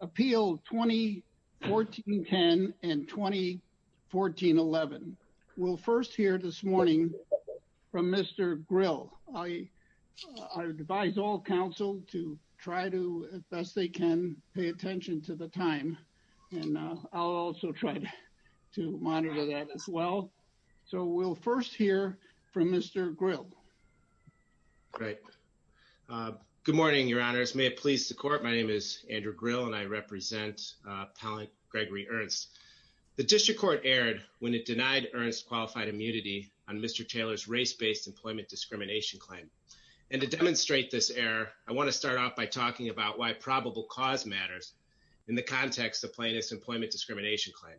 Appeal 2014-10 and 2014-11. We'll first hear this morning from Mr. Grill. I advise all council to try to, as best they can, pay attention to the time. And I'll also try to monitor that as well. So we'll first hear from Mr. Grill. Great. Good morning, Your Honors. May it please the court, my name is Andrew Grill and I represent Pallant Gregory Ernst. The District Court erred when it denied Ernst qualified immunity on Mr. Taylor's race-based employment discrimination claim. And to demonstrate this error, I want to start off by talking about why probable cause matters in the context of Plaintiff's employment discrimination claim.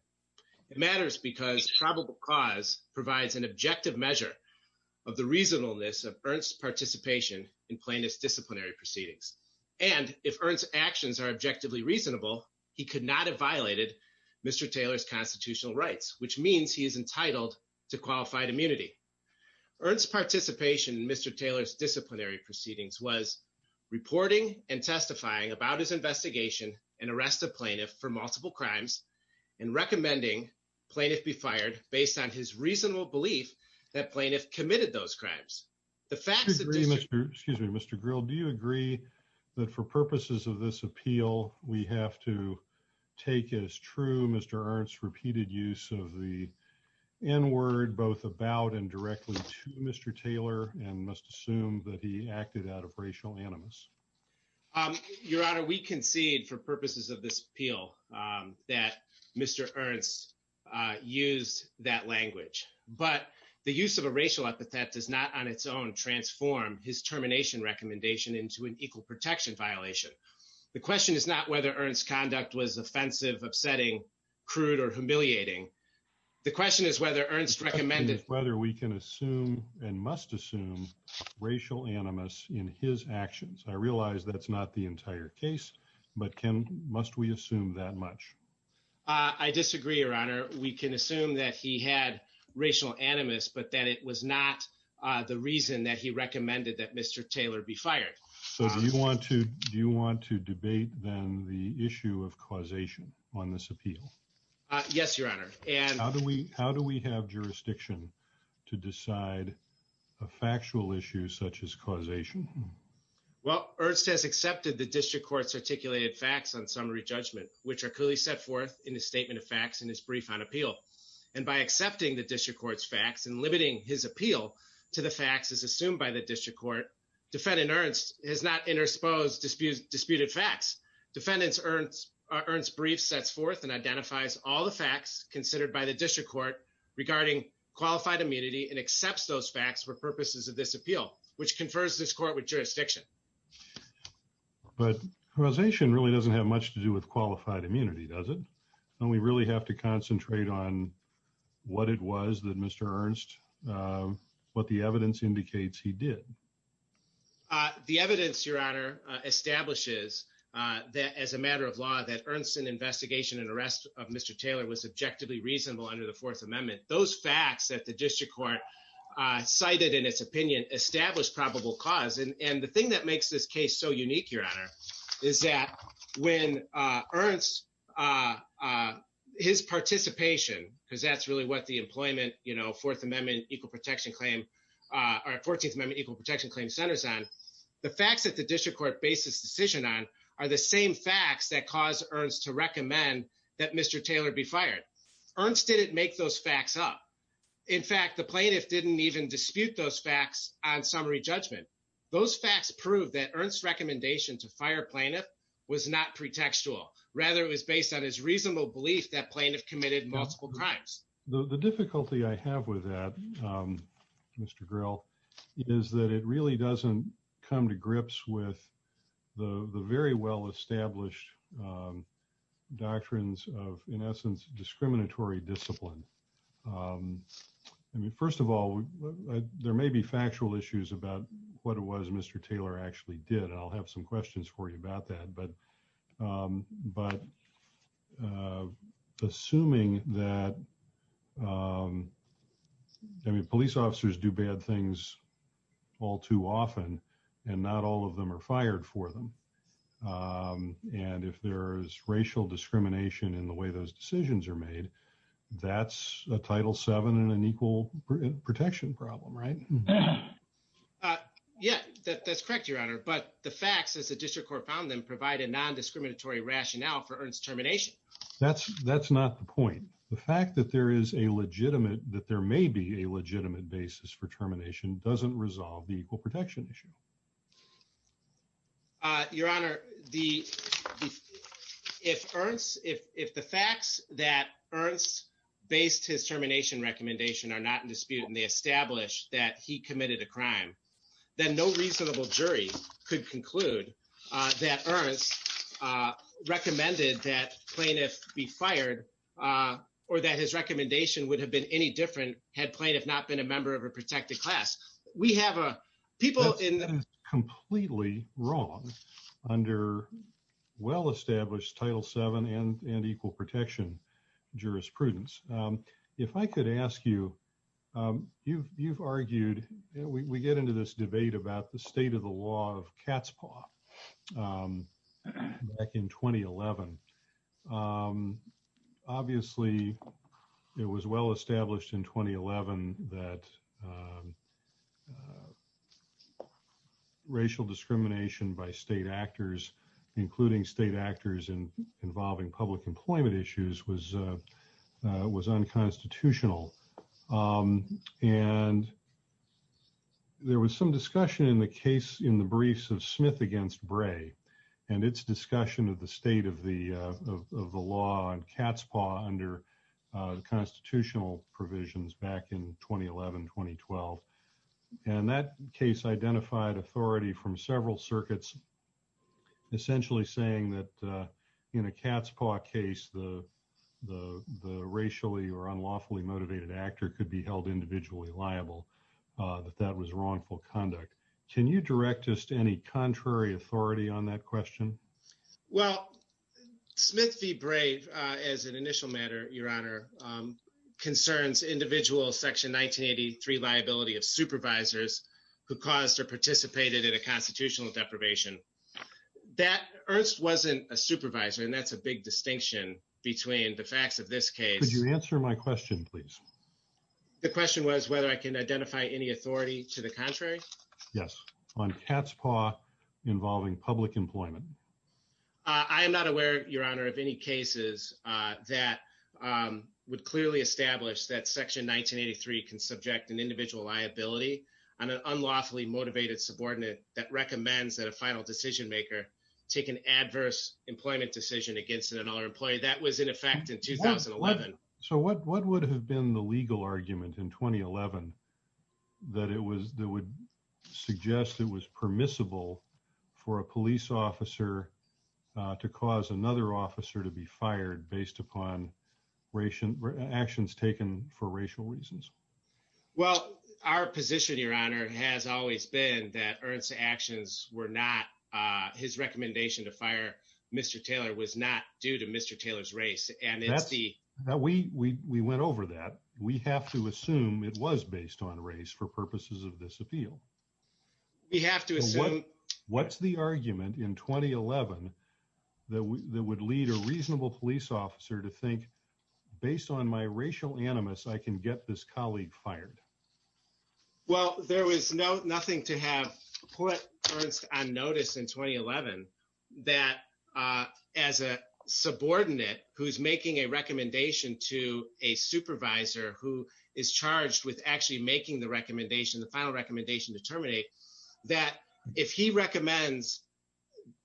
It matters because probable cause provides an objective measure of the reasonableness of Ernst's participation in plaintiff's disciplinary proceedings. And if Ernst's actions are objectively reasonable, he could not have violated Mr. Taylor's constitutional rights, which means he is entitled to qualified immunity. Ernst's participation in Mr. Taylor's disciplinary proceedings was reporting and testifying about his investigation and arrest of plaintiff for multiple crimes and recommending plaintiff be fired based on his reasonable belief that plaintiff committed those crimes. The facts agree, Mr. Excuse me, Mr. Grill, do you agree that for purposes of this appeal, we have to take as true Mr. Ernst's repeated use of the N-word both about and directly to Mr. Taylor and must assume that he acted out of racial animus? Your Honor, we concede for language, but the use of a racial epithet does not on its own transform his termination recommendation into an equal protection violation. The question is not whether Ernst's conduct was offensive, upsetting, crude, or humiliating. The question is whether Ernst recommended whether we can assume and must assume racial animus in his actions. I realize that's not the entire case, but can must we assume that much? I disagree, Your Honor. We can assume that he had racial animus, but that it was not the reason that he recommended that Mr. Taylor be fired. So do you want to do you want to debate then the issue of causation on this appeal? Yes, Your Honor. And how do we how do we have jurisdiction to decide a the District Court's articulated facts on summary judgment, which are clearly set forth in the statement of facts in his brief on appeal. And by accepting the District Court's facts and limiting his appeal to the facts as assumed by the District Court, Defendant Ernst has not intersposed disputed facts. Defendant Ernst's brief sets forth and identifies all the facts considered by the District Court regarding qualified immunity and accepts those with jurisdiction. But causation really doesn't have much to do with qualified immunity, does it? And we really have to concentrate on what it was that Mr. Ernst what the evidence indicates he did. The evidence, Your Honor, establishes that as a matter of law that Ernst's investigation and arrest of Mr. Taylor was objectively reasonable under the Fourth Amendment. Those facts that the District Court cited in its opinion established probable cause. And the thing that makes this case so unique, Your Honor, is that when Ernst, his participation, because that's really what the employment, you know, Fourth Amendment Equal Protection Claim or 14th Amendment Equal Protection Claim centers on, the facts that the District Court based this decision on are the same facts that caused Ernst to recommend that Mr. Taylor be fired. Ernst didn't make those facts up. In fact, the plaintiff didn't even dispute those facts on summary judgment. Those facts prove that Ernst's recommendation to fire a plaintiff was not pretextual. Rather, it was based on his reasonable belief that plaintiff committed multiple crimes. The difficulty I have with that, Mr. Grill, is that it really doesn't come to grips with the very well-established doctrines of, in essence, discriminatory discipline. I mean, first of all, there may be factual issues about what it was Mr. Taylor actually did, and I'll have some questions for you about that. But assuming that, I mean, police officers do bad things all too often, and not all of them are fired for them, and if there's racial discrimination in the way those decisions are made, that's a Title VII and an equal protection problem, right? Yeah, that's correct, Your Honor. But the facts, as the District Court found them, provide a non-discriminatory rationale for Ernst's termination. That's not the point. The fact that there is a legitimate, that there may be a legitimate basis for termination doesn't resolve the equal protection issue. Your Honor, if the facts that Ernst based his termination recommendation are not in dispute, and they establish that he committed a crime, then no reasonable jury could conclude that Ernst recommended that plaintiffs be fired, or that his recommendation would have been any different had plaintiffs not been a member of a protected class. We have people in the- That's completely wrong under well-established Title VII and equal protection jurisprudence. If I could ask you, you've argued, we get into this debate about the state of the law of cat's that racial discrimination by state actors, including state actors involving public employment issues, was unconstitutional. And there was some discussion in the briefs of Smith against Bray and its discussion of the state of the law on cat's paw under constitutional provisions back in 2011, 2012. And that case identified authority from several circuits, essentially saying that in a cat's paw case, the racially or unlawfully motivated actor could be held individually liable, that that was wrongful conduct. Can you direct us to any contrary authority on that question? Well, Smith v. Bray, as an initial matter, Your Honor, concerns individual Section 1983 liability of supervisors who caused or participated in a constitutional deprivation. Ernst wasn't a supervisor, and that's a big distinction between the facts of this case. Could you answer my question, please? The question was whether I can identify any authority to the contrary? Yes, on cat's paw involving public employment. I am not aware, Your Honor, of any cases that would clearly establish that Section 1983 can subject an individual liability on an unlawfully motivated subordinate that recommends that a final decision maker take an adverse employment decision against another employee. That was in effect in 2011. So what would have been the legal argument in 2011 that would suggest it was permissible for a police officer to cause another officer to be fired based upon actions taken for racial reasons? Well, our position, Your Honor, has always been that Ernst's actions were not, his recommendation to fire Mr. Taylor was not due to Mr. Taylor's race. We went over that. We have to assume it was based on race for purposes of this appeal. We have to assume. What's the argument in 2011 that would lead a reasonable police officer to think, based on my racial animus, I can get this colleague fired? Well, there was nothing to have put Ernst on notice in 2011 that as a subordinate who's making a recommendation to a supervisor who is charged with actually making the recommendation, the final recommendation to terminate, that if he recommends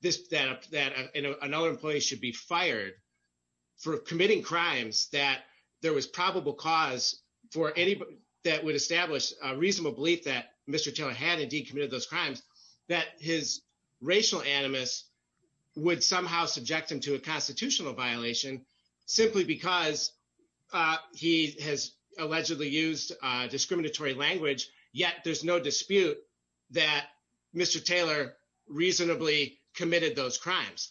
that another employee should be fired for committing crimes that there was probable cause that would establish a reasonable belief that Mr. Taylor had indeed committed those crimes, that his racial animus would somehow subject him to a constitutional violation simply because he has allegedly used discriminatory language yet there's no dispute that Mr. Taylor reasonably committed those crimes.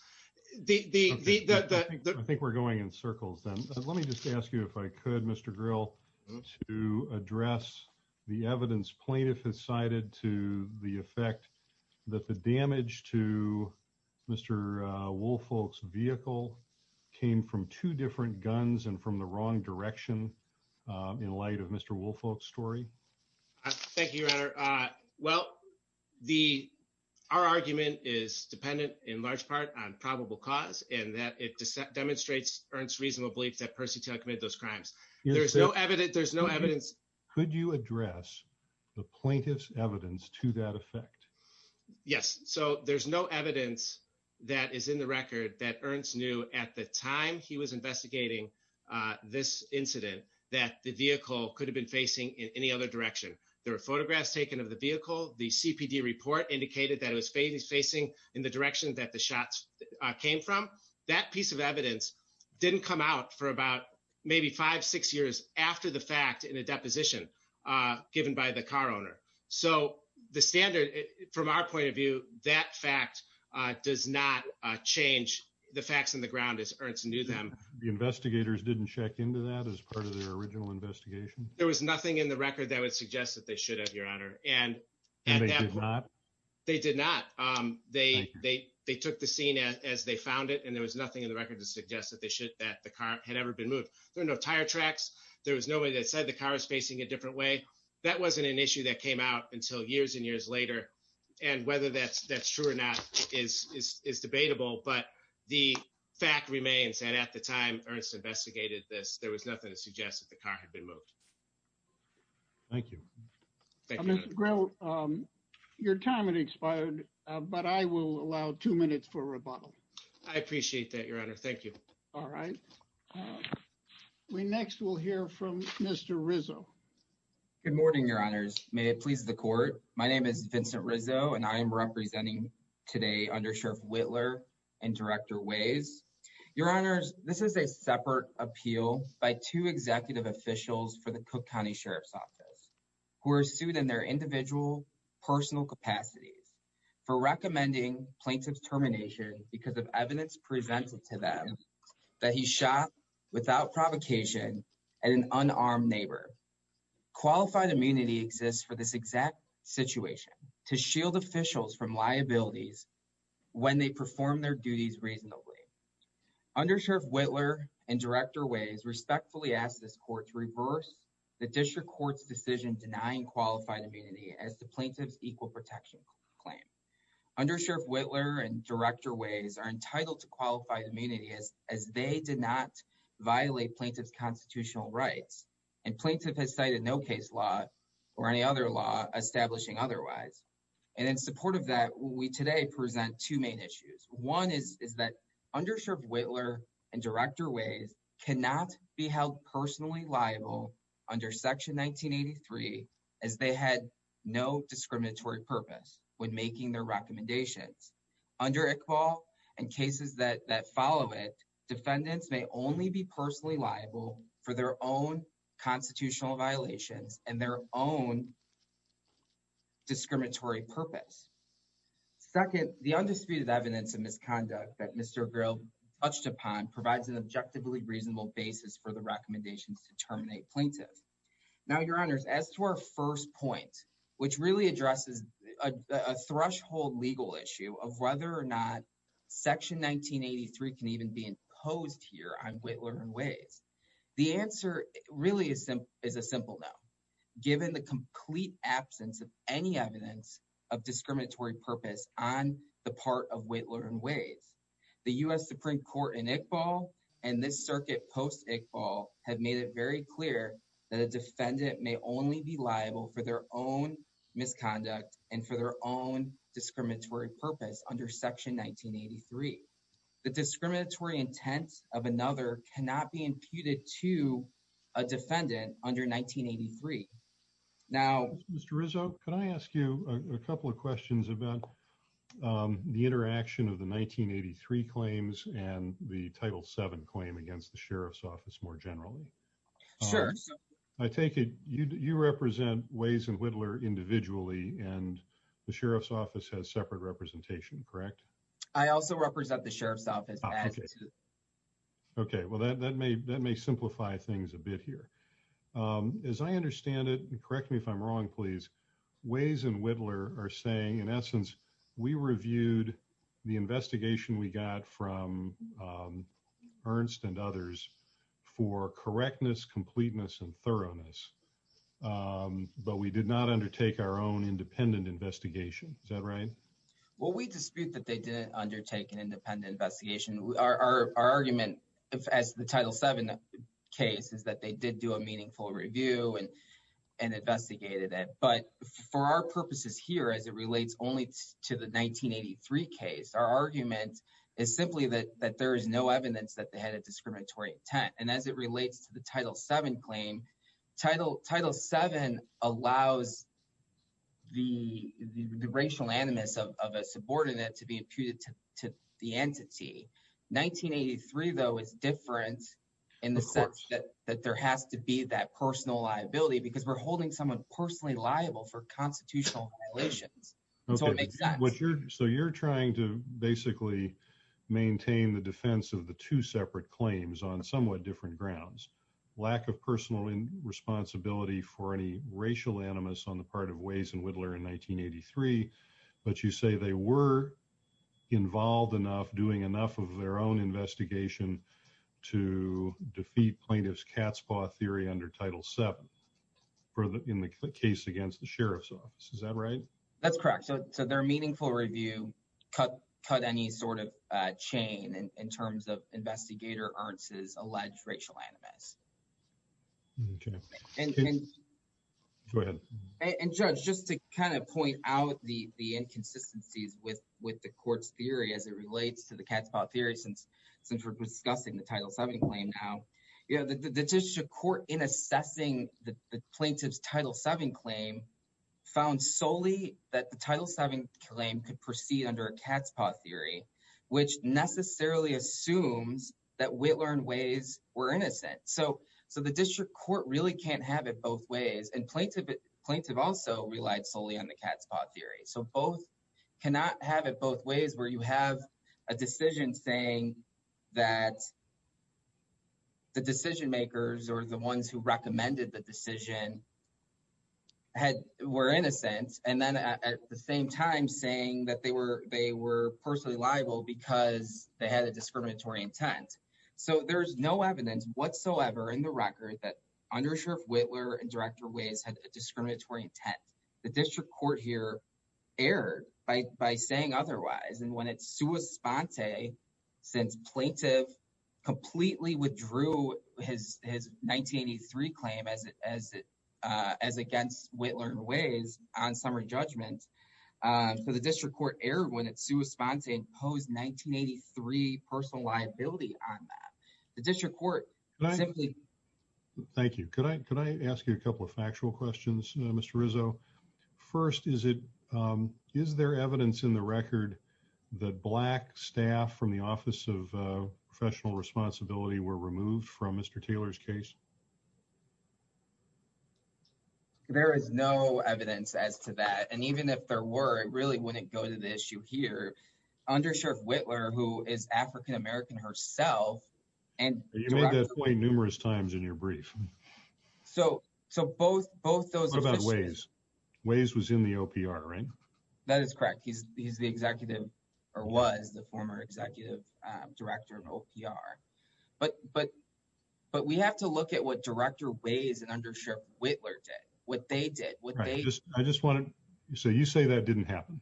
I think we're going in circles then. Let me just ask you if I could, Mr. Gryll, to address the evidence plaintiff has cited to the effect that the damage to Mr. Woolfolk's vehicle came from two different guns and from the wrong direction in light of Mr. Woolfolk's story. Thank you, Your Honor. Well, our argument is dependent in large part on probable cause and that it demonstrates Ernst's reasonable belief that Percy Taylor committed those crimes. There's no evidence. Could you address the plaintiff's evidence to that effect? Yes. So there's no evidence that is in the record that Ernst knew at the time he was investigating this incident that the vehicle could have been facing in any other direction. There were photographs taken of the vehicle. The CPD report indicated that it was facing in the direction that the shots came from. That piece of evidence didn't come out for about maybe five, six years after the fact in a deposition given by the car owner. So the standard from our point of view, that fact does not change the facts on the ground as Ernst knew them. The investigators didn't check into that as part of their original investigation? There was nothing in the record that would suggest that they should have, Your Honor. And they did not? They did not. They took the scene as they found it and there was nothing in the record to suggest that the car had ever been moved. There were no tire tracks. There was nobody that said the car was facing a different way. That wasn't an issue that came out until years and years later. And that's true or not is debatable, but the fact remains that at the time Ernst investigated this, there was nothing to suggest that the car had been moved. Thank you. Mr. Grell, your time has expired, but I will allow two minutes for rebuttal. I appreciate that, Your Honor. Thank you. All right. We next will hear from Mr. Rizzo. Good morning, Your Honors. May it please the court. My name is Vincent Rizzo and I am representing today under Sheriff Whitler and Director Ways. Your Honors, this is a separate appeal by two executive officials for the Cook County Sheriff's Office who are sued in their individual personal capacities for recommending plaintiff's termination because of evidence presented to them that he shot without provocation at an unarmed neighbor. Qualified immunity exists for this exact situation to shield officials from liabilities when they perform their duties reasonably. Under Sheriff Whitler and Director Ways respectfully ask this court to reverse the district court's decision denying qualified immunity as the immunity as they did not violate plaintiff's constitutional rights and plaintiff has cited no case law or any other law establishing otherwise. And in support of that, we today present two main issues. One is that under Sheriff Whitler and Director Ways cannot be held personally liable under Section 1983 as they had no discriminatory purpose when making their recommendations. Under Iqbal and cases that follow it, defendants may only be personally liable for their own constitutional violations and their own discriminatory purpose. Second, the undisputed evidence of misconduct that Mr. O'Grill touched upon provides an objectively reasonable basis for the recommendations to terminate plaintiff. Now, Your Honors, as to our first point, which really addresses a threshold legal issue of whether or not Section 1983 can even be imposed here on Whitler and Ways, the answer really is a simple no. Given the complete absence of any evidence of discriminatory purpose on the part of Whitler and Ways, the U.S. Supreme Court in Iqbal and this circuit post-Iqbal have made it very clear that a defendant may only be liable for their own misconduct and for their own discriminatory purpose under Section 1983. The discriminatory intent of another cannot be imputed to a defendant under 1983. Now, Mr. Rizzo, can I ask you a couple of questions about the interaction of the 1983 claims and the Title VII claim against the Sheriff's Office more generally? Sure. I take it you represent Ways and Whitler individually and the Sheriff's Office has separate representation, correct? I also represent the Sheriff's Office as to... Okay. Well, that may simplify things a bit here. As I understand it, and correct me if I'm wrong, Ways and Whitler are saying, in essence, we reviewed the investigation we got from Ernst and others for correctness, completeness, and thoroughness, but we did not undertake our own independent investigation. Is that right? Well, we dispute that they didn't undertake an independent investigation. Our argument as the and investigated it. But for our purposes here, as it relates only to the 1983 case, our argument is simply that there is no evidence that they had a discriminatory intent. And as it relates to the Title VII claim, Title VII allows the racial animus of a subordinate to be imputed to the entity. 1983, though, is different in the sense that there has to be that personal liability because we're holding someone personally liable for constitutional violations. So you're trying to basically maintain the defense of the two separate claims on somewhat different grounds. Lack of personal responsibility for any racial animus on the part of Ways and involved enough, doing enough of their own investigation to defeat plaintiff's cat's paw theory under Title VII in the case against the sheriff's office. Is that right? That's correct. So their meaningful review cut any sort of chain in terms of investigator Ernst's alleged racial animus. Go ahead. And judge, just to kind of point out the inconsistencies with the court's theory, as it relates to the cat's paw theory, since we're discussing the Title VII claim now, the district court in assessing the plaintiff's Title VII claim found solely that the Title VII claim could proceed under a cat's paw theory, which necessarily assumes that Whitler and Ways were innocent. So the district court really can't have it both ways. And plaintiff also relied solely on the cat's paw theory. So both cannot have it both ways where you have a decision saying that the decision makers or the ones who recommended the decision were innocent. And then at the same time saying that they were personally liable because they had a discriminatory intent. So there's no evidence whatsoever in the record that undersheriff Whitler and director Ways had a discriminatory intent. The district court here erred by saying otherwise. And when it's sua sponte, since plaintiff completely withdrew his 1983 claim as against Whitler and Ways on summary judgment. So the district court erred when it's sua sponte and posed 1983 personal liability on that. The district court simply. Thank you. Could I ask you a couple of factual questions, Mr. Rizzo? First, is there evidence in the record that black staff from the Office of Professional Responsibility were removed from Mr. Taylor's case? There is no evidence as to that. And even if there were, it really wouldn't go to the issue here. Undersheriff Whitler, who is African-American herself. You made that point numerous times in your brief. So both those. What about Ways? Ways was in the OPR, right? That is correct. He's the executive or was the former executive director of OPR. But we have to look at what director Ways and undersheriff Whitler did, what they did. So you say that didn't happen.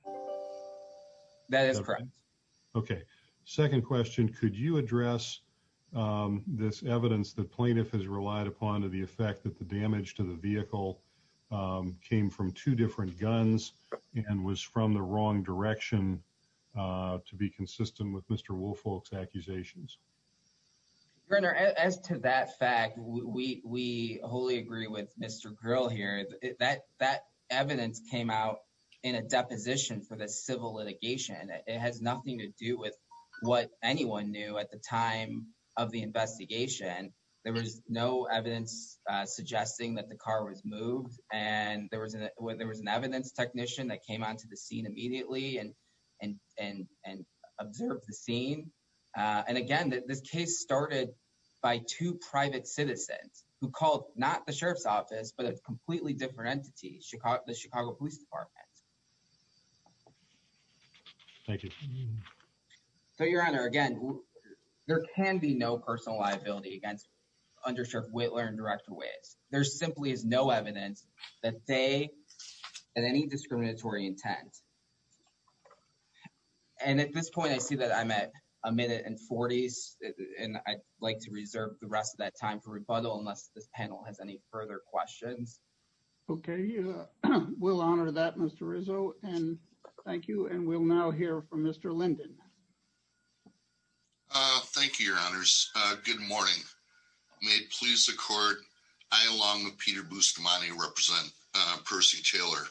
That is correct. Okay. Second question. Could you address this evidence that plaintiff has relied upon to the effect that the damage to the vehicle came from two different guns and was from the wrong direction to be consistent with Mr. Woolfolk's accusations? Your Honor, as to that fact, we wholly agree with Mr. Grill here. That evidence came out in a deposition for the civil litigation. It has nothing to do with what anyone knew at the time of the investigation. There was no evidence suggesting that the car was moved. And there was an evidence technician that came onto the scene immediately and observed the scene. And again, this case started by two private citizens who called not the sheriff's office, but a completely different entity, the Chicago Police Department. Thank you. So Your Honor, again, there can be no personal liability against undersheriff Whitler and director Ways. There simply is no evidence that they, at any discriminatory intent. And at this point, I see that I'm at a minute and 40s, and I'd like to reserve the rest of that time for rebuttal unless this panel has any further questions. Okay. We'll honor that, Mr. Rizzo. And thank you. And we'll now hear from Mr. Linden. Thank you, Your Honors. Good morning. May it please the court, I, along with Peter Bustamante, represent Percy Taylor,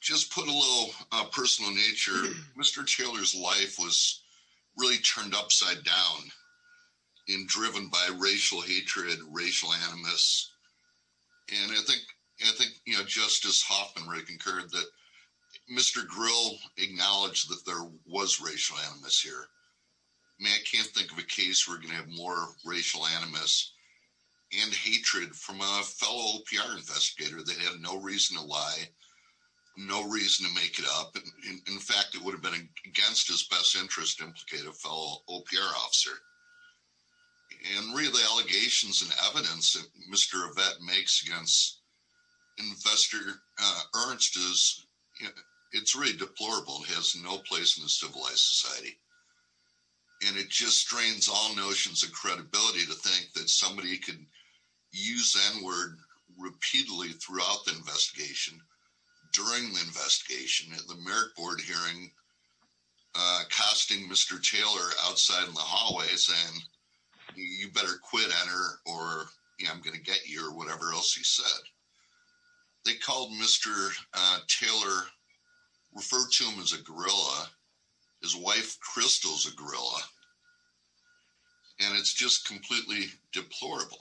just put a little personal nature. Mr. Taylor's life was really turned upside down in driven by racial hatred, racial animus. And I think, I think, you know, Justice Hoffman concurred that Mr. Grill acknowledged that there was racial animus here. May I can't think of a case where we're gonna have more racial animus and hatred from fellow PR investigator, they have no reason to lie, no reason to make it up. In fact, it would have been against his best interest to implicate a fellow OPR officer. And really allegations and evidence that Mr. Yvette makes against investor Ernst is, it's really deplorable, has no place in the civilized society. And it just strains all notions of credibility to think that somebody could use N-word repeatedly throughout the investigation, during the investigation, at the merit board hearing, casting Mr. Taylor outside in the hallways saying, you better quit N-word or I'm gonna get you or whatever else he said. They called Mr. Taylor, referred to him as a gorilla, his wife Crystal's a gorilla. And it's just completely deplorable.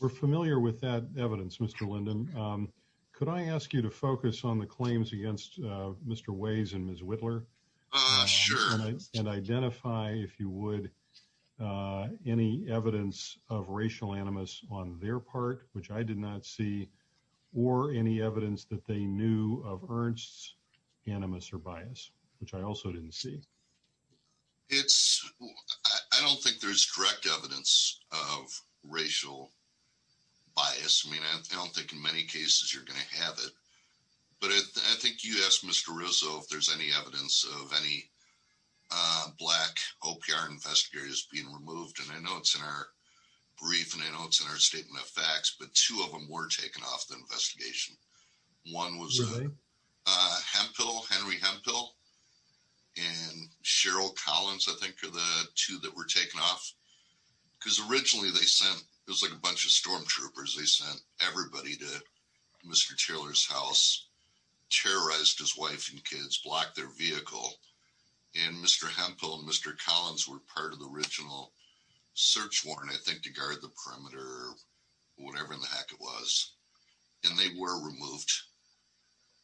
We're familiar with that evidence, Mr. Linden. Could I ask you to focus on the claims against Mr. Ways and Ms. Whittler? Sure. And identify, if you would, any evidence of racial animus on their part, which I did not see, or any evidence that they knew of Ernst's animus or bias, which I also didn't see. It's, I don't think there's direct evidence of racial bias. I mean, I don't think in many cases you're gonna have it. But I think you asked Mr. Russo if there's any evidence of any black OPR investigators being removed. And I know it's in our brief and I know it's in our statement of facts, but two of them were taken off the investigation. One was Henry Hemphill. And Cheryl Collins, I think, are the two that were taken off. Because originally they sent, it was like a bunch of stormtroopers. They sent everybody to Mr. Taylor's house, terrorized his wife and kids, blocked their vehicle. And Mr. Hemphill and Mr. Collins were part of the original search warrant, I think, to guard the perimeter, whatever in the heck it was. And they were removed.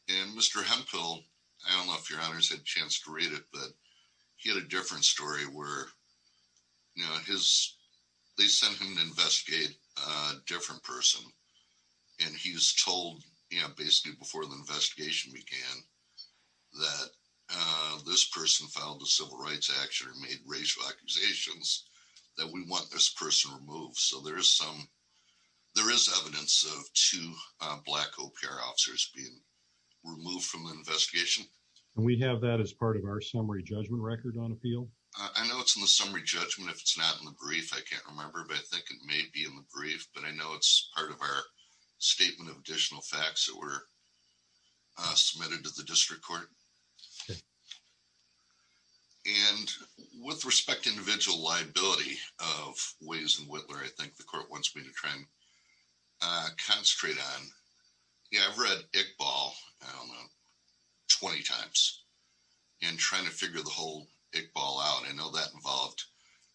And Mr. Hemphill, I don't know if your honors had a chance to read it, but he had a different story where they sent him to investigate a different person. And he was told, basically before the investigation began, that this person filed a civil rights action and made racial accusations that we want this person removed. So there is evidence of two black OPR officers being removed from the investigation. And we have that as part of our summary judgment record on appeal? I know it's in the summary judgment. If it's not in the brief, I can't remember, but I think it may be in the brief, but I know it's part of our statement of additional facts that were submitted to the district court. Okay. And with respect to individual liability of Weis and Whitler, I think the court wants me to try and concentrate on, yeah, I've read Iqbal, I don't know, 20 times and trying to figure the whole Iqbal out. I know that involved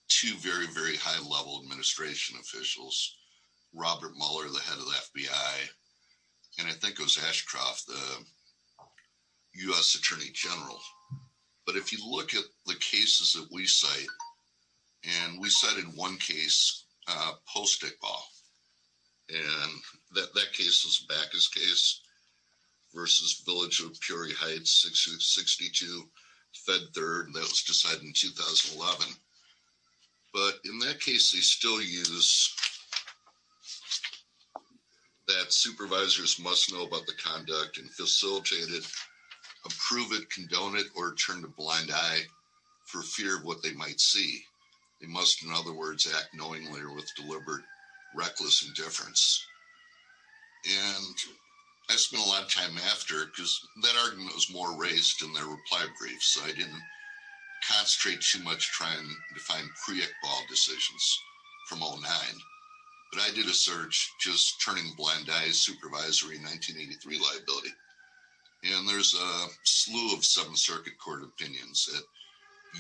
two very, very high level administration officials, Robert Mueller, the head of the FBI, and I think it was Ashcroft, the U.S. Attorney General. But if you look at the cases that we cite, and we cited one case post Iqbal, and that case was Baca's case versus Village of Peoria Heights 62, Fed Third, that was decided in 2011. But in that case, they still use that supervisors must know about the conduct and facilitate it, approve it, condone it, or turn a blind eye for fear of what they might see. They must, in other words, act knowingly or with deliberate, reckless indifference. And I spent a lot of time after because that argument was more raised in their reply brief, so I didn't concentrate too much trying to find pre-Iqbal decisions from all nine. But I did a search just turning blind eyes supervisory 1983 liability. And there's a slew of some circuit court opinions that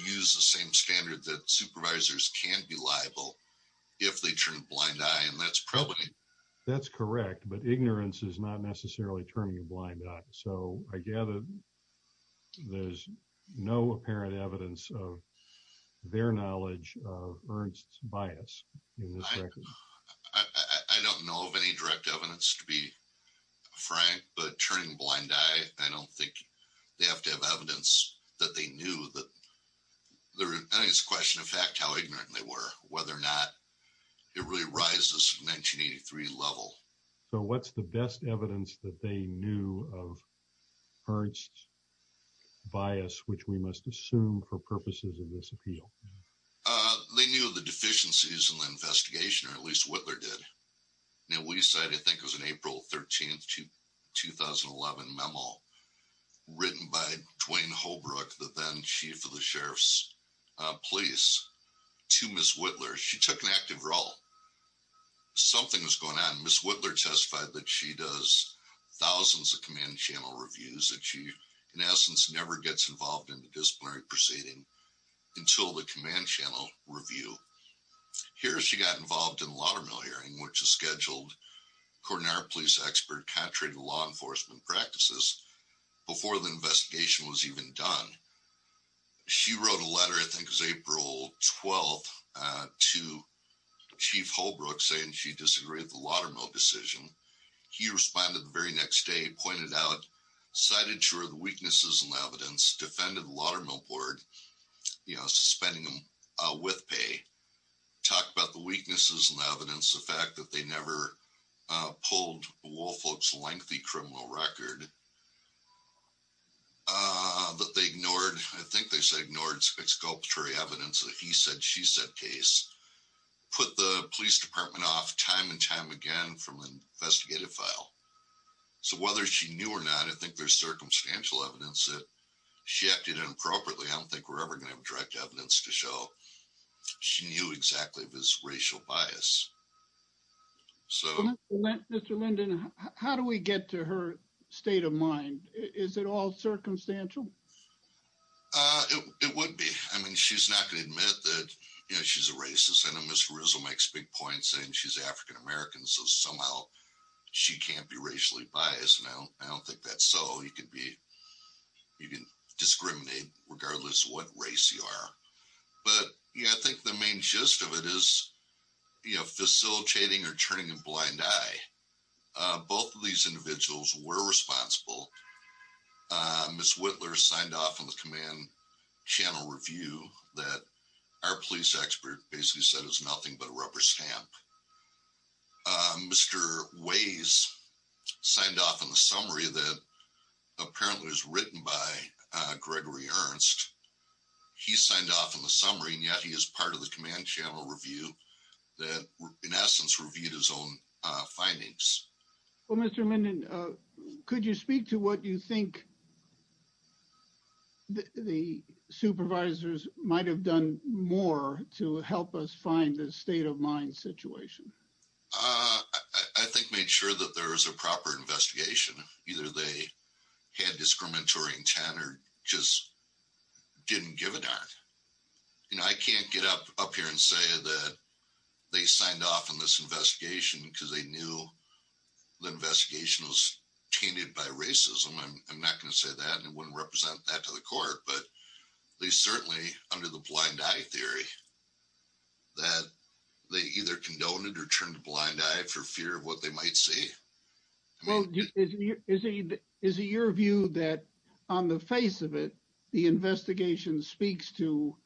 use the same standard that supervisors can be liable if they turn a blind eye, and that's probably... That's correct, but ignorance is not necessarily turning a blind eye. So I gather there's no apparent evidence of their knowledge of Ernst's bias in this record. I don't know of any direct evidence to be frank, but turning a blind eye, I don't think they have to have evidence that they knew that... I think it's a question of fact how ignorant they were, whether or not it really rises from 1983 level. So what's the best evidence that they knew of Ernst's bias, which we must assume for purposes of this appeal? They knew the deficiencies in the investigation, or at least Whitler did. Now, we decided, I think it was an April 13th, 2011 memo written by Dwayne Holbrook, the then chief of the sheriff's police, to Ms. Whitler. She took an active role. Something was going on. Ms. Whitler testified that she does thousands of command channel reviews, that she, in essence, never gets involved in the disciplinary proceeding until the command channel review. Here, she got involved in the Laudermill hearing, which is scheduled, according to our police expert, contrary to law enforcement practices, before the investigation was even done. She wrote a letter, I think it was April 12th, to Chief Holbrook, saying she disagreed with the Laudermill decision. He responded the very next day, pointed out, cited, sure, the weaknesses in the evidence, defended the Laudermill board, suspending them with pay, talked about the weaknesses in the evidence, the fact that they never pulled Woolfolk's lengthy criminal record, that they ignored, I think they said ignored exculpatory evidence that he said, she said case, put the police department off time and time again from an investigative file. So whether she knew or not, I think there's circumstantial evidence that she acted inappropriately. I don't think we're ever going to have direct evidence to show she knew exactly this racial bias. So- Mr. Linden, how do we get to her state of mind? Is it all circumstantial? It would be. I mean, she's not going to admit that she's a racist. I know Ms. Rizzo makes big points saying she's African American, so somehow she can't be racially biased. No, I don't think that's so. You can discriminate regardless of what race you are. But yeah, I think the main gist of it is facilitating or turning a blind eye. Both of these individuals were responsible. Ms. Whitler signed off on the command channel review that our police expert basically said was nothing but a rubber stamp. Mr. Ways signed off on the summary that apparently was written by Gregory Ernst. He signed off on the summary and yet he is part of the command channel review that in essence reviewed his own findings. Well, Mr. Linden, could you speak to what you think the supervisors might have done more to help us find the state of mind situation? I think made sure that there was a proper investigation. Either they had discriminatory intent or just didn't give a darn. I can't get up here and say that they signed off on this investigation because they knew the investigation was tainted by racism. I'm not going to say that and it wouldn't represent that to the court, but at least certainly under the blind eye theory that they either condoned it or turned a blind eye for fear of what they might see. Well, is it your view that on the face of it, the investigation speaks to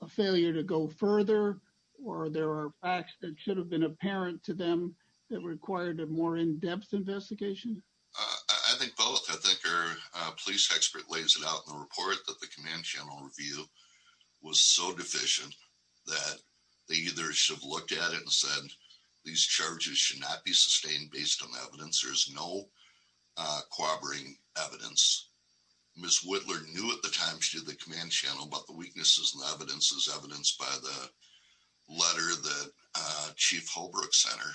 a failure to go further or there are facts that should have been apparent to them that required a more in-depth investigation? I think both. I think our police expert lays it out in the report that the command channel review was so deficient that they either should have looked at it and said these charges should not be sustained based on evidence. There's no corroborating evidence. Ms. Whitler knew at the time she did the command channel about the weaknesses and the evidence is evidenced by the letter that Chief Holbrook sent her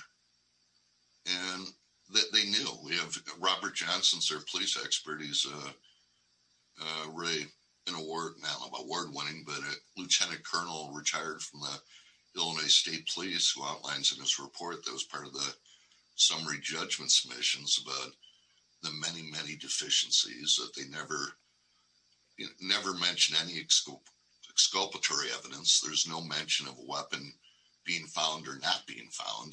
and that they knew. We have Robert Johnson, their police expert, he's really an award winning, but a lieutenant colonel retired from the Illinois State Police who outlines in his report that was part of the summary judgment submissions about the many, many deficiencies that they never mentioned any exculpatory evidence. There's no mention of a weapon being found or not being found.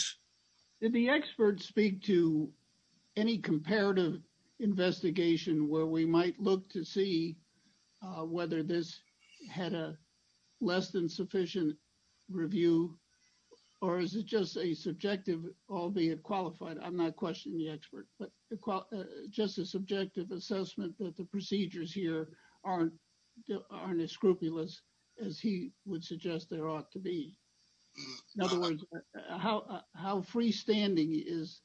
Did the expert speak to any comparative investigation where we might look to see whether this had a less than sufficient review or is it just a subjective, albeit qualified, I'm not questioning the expert, but just a subjective assessment that the procedures here aren't as scrupulous as he would suggest there ought to be. In other words, how freestanding is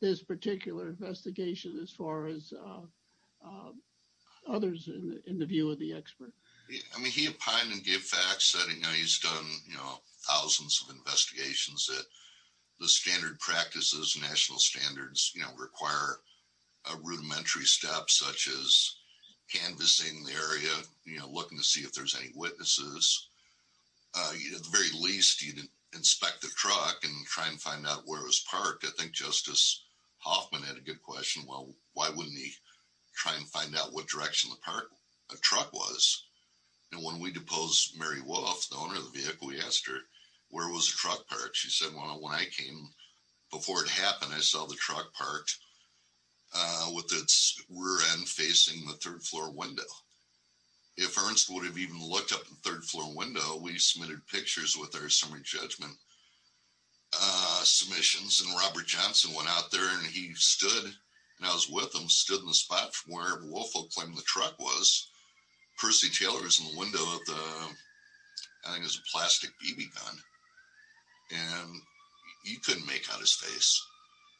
this particular investigation as far as others in the view of the expert? I mean, he opined and gave facts. I know he's done thousands of investigations that the standard practices, national standards, require a rudimentary step such as canvassing the area, looking to see if there's any witnesses, at the very least, you'd inspect the truck and try and find out where it was parked. I think Justice Hoffman had a good question. Well, why wouldn't he try and find out what direction the truck was? And when we deposed Mary Wolf, the owner of the vehicle, we asked her, where was the truck parked? She said, well, when I came before it happened, I saw the truck parked with its rear end facing the third floor window. If Ernst would have even looked up the third floor window, we submitted pictures with our summary judgment submissions and Robert Johnson went out there and he stood, and I was with him, stood in the spot from where Wolf will claim the truck was. Percy Taylor was in the window of the, I think it was a plastic BB gun, and he couldn't make out his face.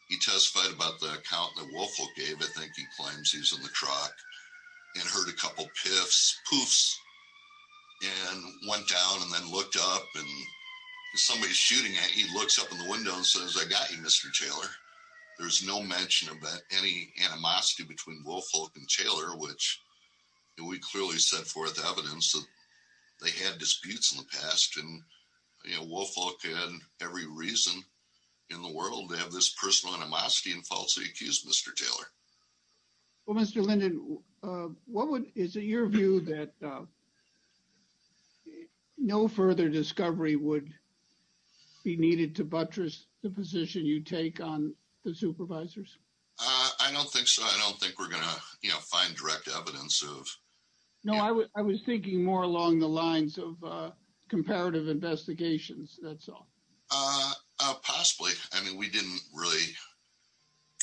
He testified about the account that Wolf gave, I think he claims he's in the truck, and heard a couple piffs, poofs, and went down and then looked up and somebody's shooting at he looks up in the window and says, I got you, Mr. Taylor. There's no mention of any animosity between Wolf, Hulk, and Taylor, which we clearly set forth evidence that they had disputes in the past. And, you know, Wolf, Hulk had every reason in the world to have this personal animosity and what would, is it your view that no further discovery would be needed to buttress the position you take on the supervisors? I don't think so. I don't think we're going to, you know, find direct evidence of... No, I was thinking more along the lines of comparative investigations, that's all. Possibly. I mean, we didn't really,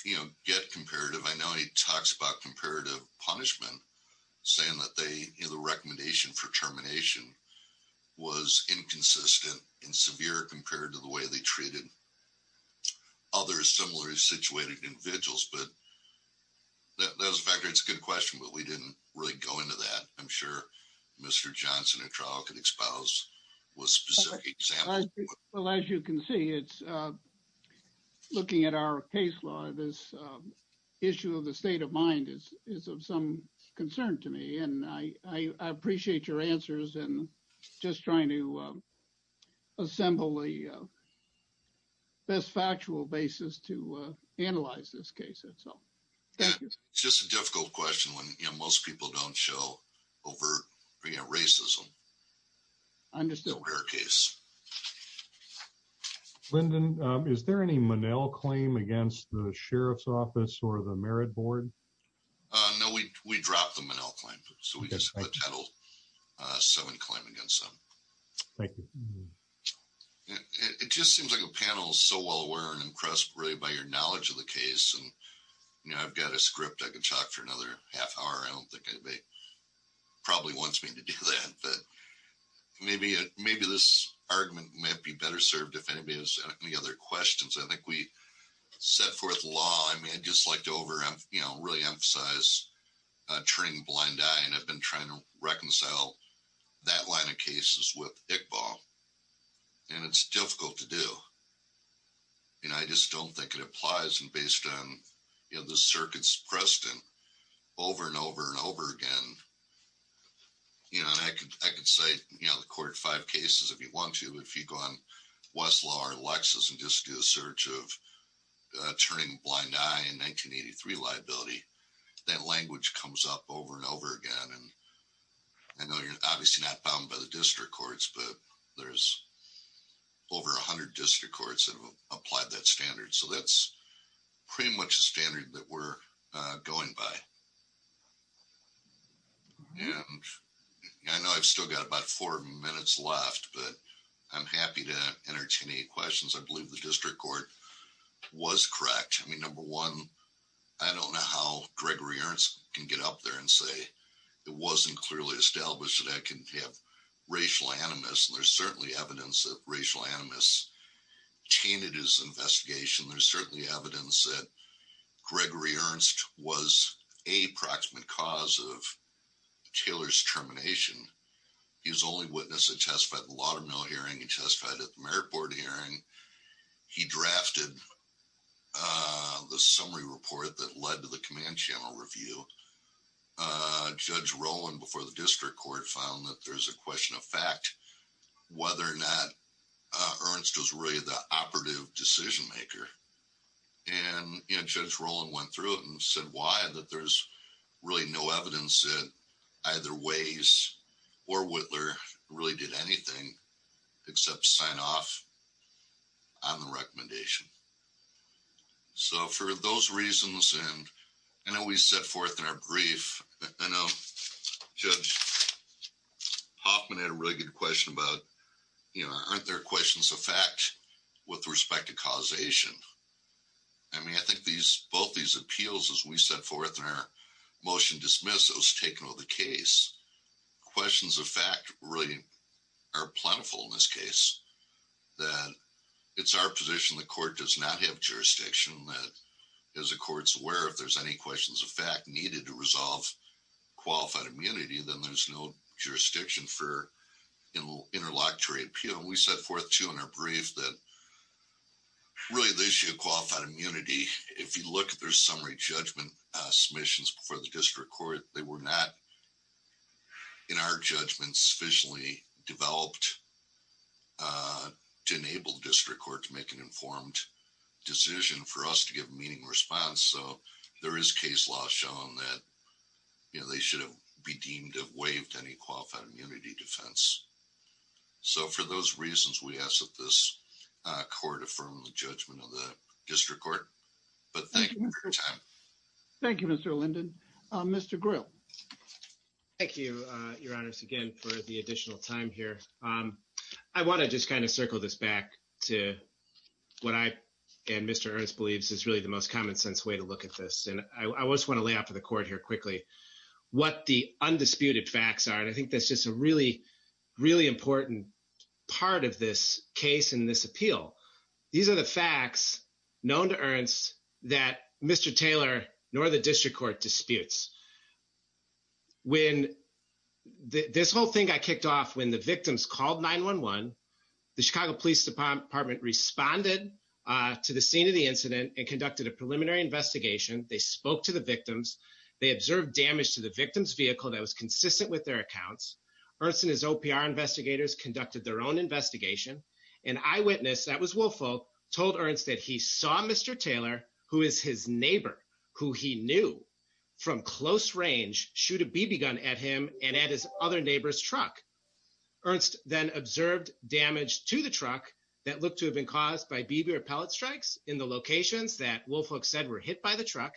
you know, get comparative. I know he talks about comparative punishment, saying that they, you know, the recommendation for termination was inconsistent and severe compared to the way they treated other similarly situated individuals, but that was a factor. It's a good question, but we didn't really go into that. I'm sure Mr. Johnson at trial could expose with specific examples. Well, as you can see, it's looking at our case law, this issue of the state of mind is of some concern to me, and I appreciate your answers and just trying to assemble the best factual basis to analyze this case itself. Thank you. It's just a difficult question when, you know, most people don't show overt racism. Understood. It's a rare case. Lyndon, is there any Monell claim against the Sheriff's Office or the Merit Board? No, we dropped the Monell claim, so we just have a Title VII claim against them. Thank you. It just seems like a panel is so well aware and impressed, really, by your knowledge of the case, and, you know, I've got a script, I can talk for another half hour. I don't think anybody probably wants me to do that, but maybe this argument might be better served if anybody has any other questions. I think we set forth law. I mean, I'd just like to really emphasize turning a blind eye, and I've been trying to reconcile that line of cases with Iqbal, and it's difficult to do, and I just don't think it applies, and based on, the circuit's precedent over and over and over again. You know, and I could say, you know, the court five cases, if you want to, if you go on Westlaw or Lexis and just do a search of turning a blind eye in 1983 liability, that language comes up over and over again, and I know you're obviously not bound by the district courts, but there's over 100 district courts that have applied that standard, so that's pretty much the standard that we're going by, and I know I've still got about four minutes left, but I'm happy to entertain any questions. I believe the district court was correct. I mean, number one, I don't know how Gregory Ernst can get up there and say it wasn't clearly established that I can have racial animus. There's certainly evidence that racial animus tainted his Gregory Ernst was a proximate cause of Taylor's termination. He was the only witness that testified at the Laudermill hearing. He testified at the merit board hearing. He drafted the summary report that led to the command channel review. Judge Rowland, before the district court, found that there's a question of fact whether or not Ernst was really the operative decision maker, and Judge Rowland went through it and said why, that there's really no evidence that either Ways or Whitler really did anything except sign off on the recommendation. So for those reasons, and I know we set forth in our brief, I know Judge Hoffman had a really good question about, you know, aren't there questions of fact with respect to causation? I mean, I think these, both these appeals as we set forth in our motion dismissed, it was taken with the case. Questions of fact really are plentiful in this case, that it's our position the court does not have jurisdiction, that as the court's aware, if there's any questions of fact needed to resolve qualified immunity, then there's no jurisdiction for interlocutory appeal. We set forth too in our brief that really the issue of qualified immunity, if you look at their summary judgment submissions before the district court, they were not in our judgments sufficiently developed to enable the district court to make an informed decision for us to give a meeting response. So there is case law shown that, you know, they should have be deemed to have waived any qualified immunity defense. So for those reasons, we ask that this court affirm the judgment of the district court, but thank you for your time. Thank you, Mr. Linden. Mr. Grill. Thank you, Your Honors, again for the additional time here. I want to just kind of circle this back to what I and Mr. Ernst believes is the most common sense way to look at this. And I just want to lay out for the court here quickly what the undisputed facts are. And I think that's just a really, really important part of this case in this appeal. These are the facts known to Ernst that Mr. Taylor nor the district court disputes. When this whole thing got kicked off, when the victims called 911, the Chicago Police Department responded to the scene of the incident and conducted a preliminary investigation. They spoke to the victims. They observed damage to the victim's vehicle that was consistent with their accounts. Ernst and his OPR investigators conducted their own investigation. An eyewitness, that was Woolfolk, told Ernst that he saw Mr. Taylor, who is his neighbor, who he knew from close range, shoot a BB gun at him and at his other neighbor's truck. Ernst then observed damage to the truck, that looked to have been caused by BB or pellet strikes in the locations that Woolfolk said were hit by the truck.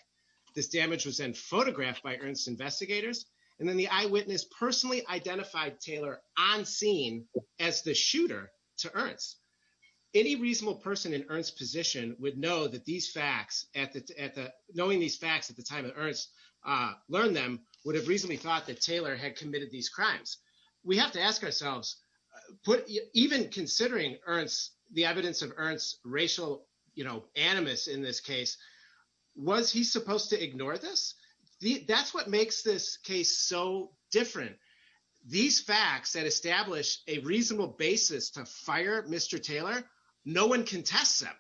This damage was then photographed by Ernst's investigators. And then the eyewitness personally identified Taylor on scene as the shooter to Ernst. Any reasonable person in Ernst's position would know that these facts, knowing these facts at the time that Ernst learned them, would have reasonably thought that Taylor had committed these crimes. We have to ask ourselves, even considering the evidence of Ernst's racial animus in this case, was he supposed to ignore this? That's what makes this case so different. These facts that establish a reasonable basis to fire Mr. Taylor, no one contests them.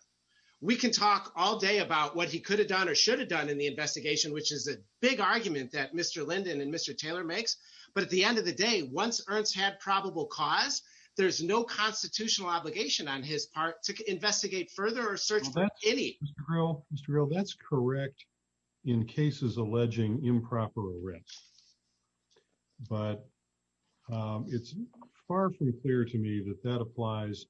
We can talk all day about what he could have done or should have done in the investigation, which is a big argument that Mr. Earl's had probable cause, there's no constitutional obligation on his part to investigate further or search for any. Mr. Earl, that's correct in cases alleging improper arrest. But it's far from clear to me that that applies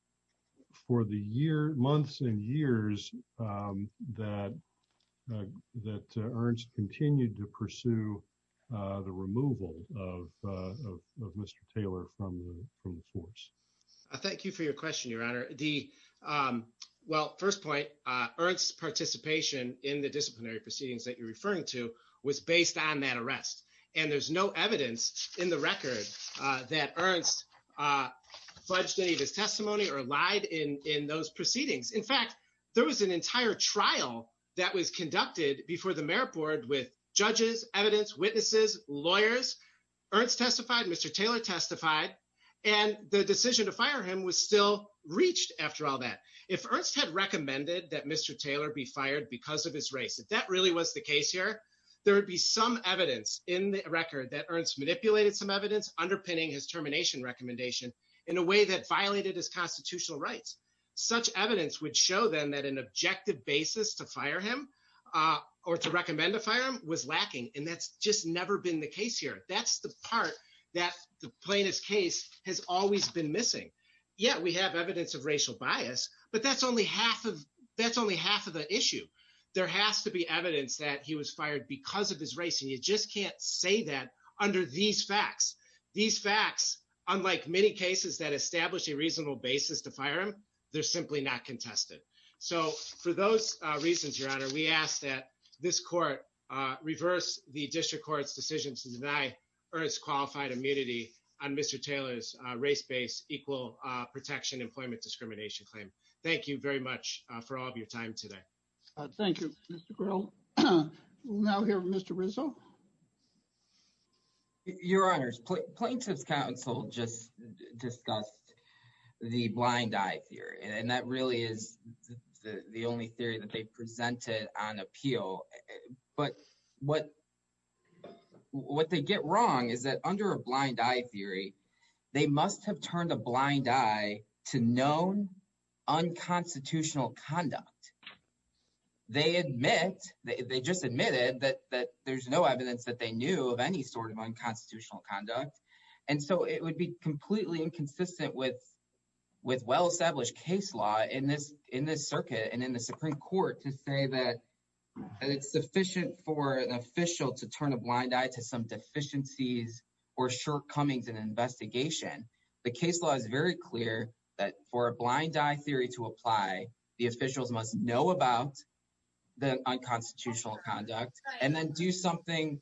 for the year, months and years that Ernst continued to pursue the removal of Mr. Taylor from the force. Thank you for your question, Your Honor. Well, first point, Ernst's participation in the disciplinary proceedings that you're referring to was based on that arrest. And there's no evidence in the record that Ernst fudged any of his testimony or lied in those proceedings. In fact, there was an entire trial that was conducted before the mayor board with judges, evidence, witnesses, lawyers, Ernst testified, Mr. Taylor testified, and the decision to fire him was still reached after all that. If Ernst had recommended that Mr. Taylor be fired because of his race, if that really was the case here, there would be some evidence in the record that Ernst manipulated some evidence underpinning his termination recommendation in a way that showed them that an objective basis to fire him or to recommend to fire him was lacking. And that's just never been the case here. That's the part that the plaintiff's case has always been missing. Yeah, we have evidence of racial bias, but that's only half of the issue. There has to be evidence that he was fired because of his race. And you just can't say that under these facts. These facts, unlike many cases that establish a reasonable basis to fire him, they're simply not contested. So for those reasons, Your Honor, we ask that this court reverse the district court's decision to deny Ernst qualified immunity on Mr. Taylor's race-based equal protection employment discrimination claim. Thank you very much for all of your time today. Thank you, Mr. Grell. We'll now hear from Mr. Rizzo. Your Honor, plaintiff's counsel just discussed the blind eye theory. And that really is the only theory that they presented on appeal. But what they get wrong is that under a blind eye theory, they must have turned a blind eye to known unconstitutional conduct. They admit, they just admitted that there's no evidence that they knew of any sort of unconstitutional conduct. And so it would be completely inconsistent with well-established case law in this circuit and in the Supreme Court to say that it's sufficient for an official to turn a blind eye to some deficiencies or shortcomings in an investigation. The case law is very clear that for a blind eye theory to apply, the officials must know about the unconstitutional conduct and then do something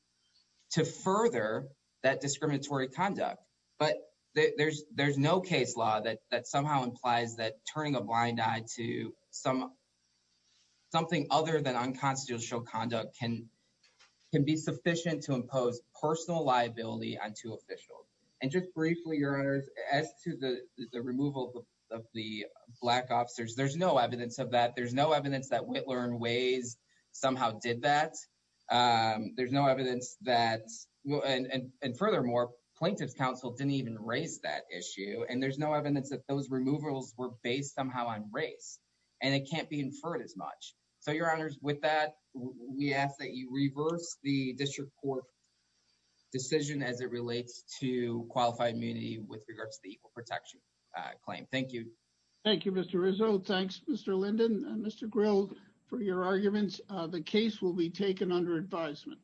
to further that discriminatory conduct. But there's no case law that somehow implies that turning a blind eye to something other than unconstitutional conduct can be sufficient to impose personal liability on two officials. And just briefly, Your Honor, as to the removal of the black officers, there's no evidence of that. There's no evidence that Whitler and Waze somehow did that. There's no evidence that, and furthermore, plaintiff's counsel didn't even raise that issue. And there's no evidence that those removals were based somehow on race. And it can't be inferred as much. So Your Honor, with that, we ask that you reverse the district court decision as it relates to qualified immunity with regards to the equal protection claim. Thank you. Thank you, Mr. Rizzo. Thanks, Mr. Linden and Mr. Grill for your arguments. The case will be taken under advisement.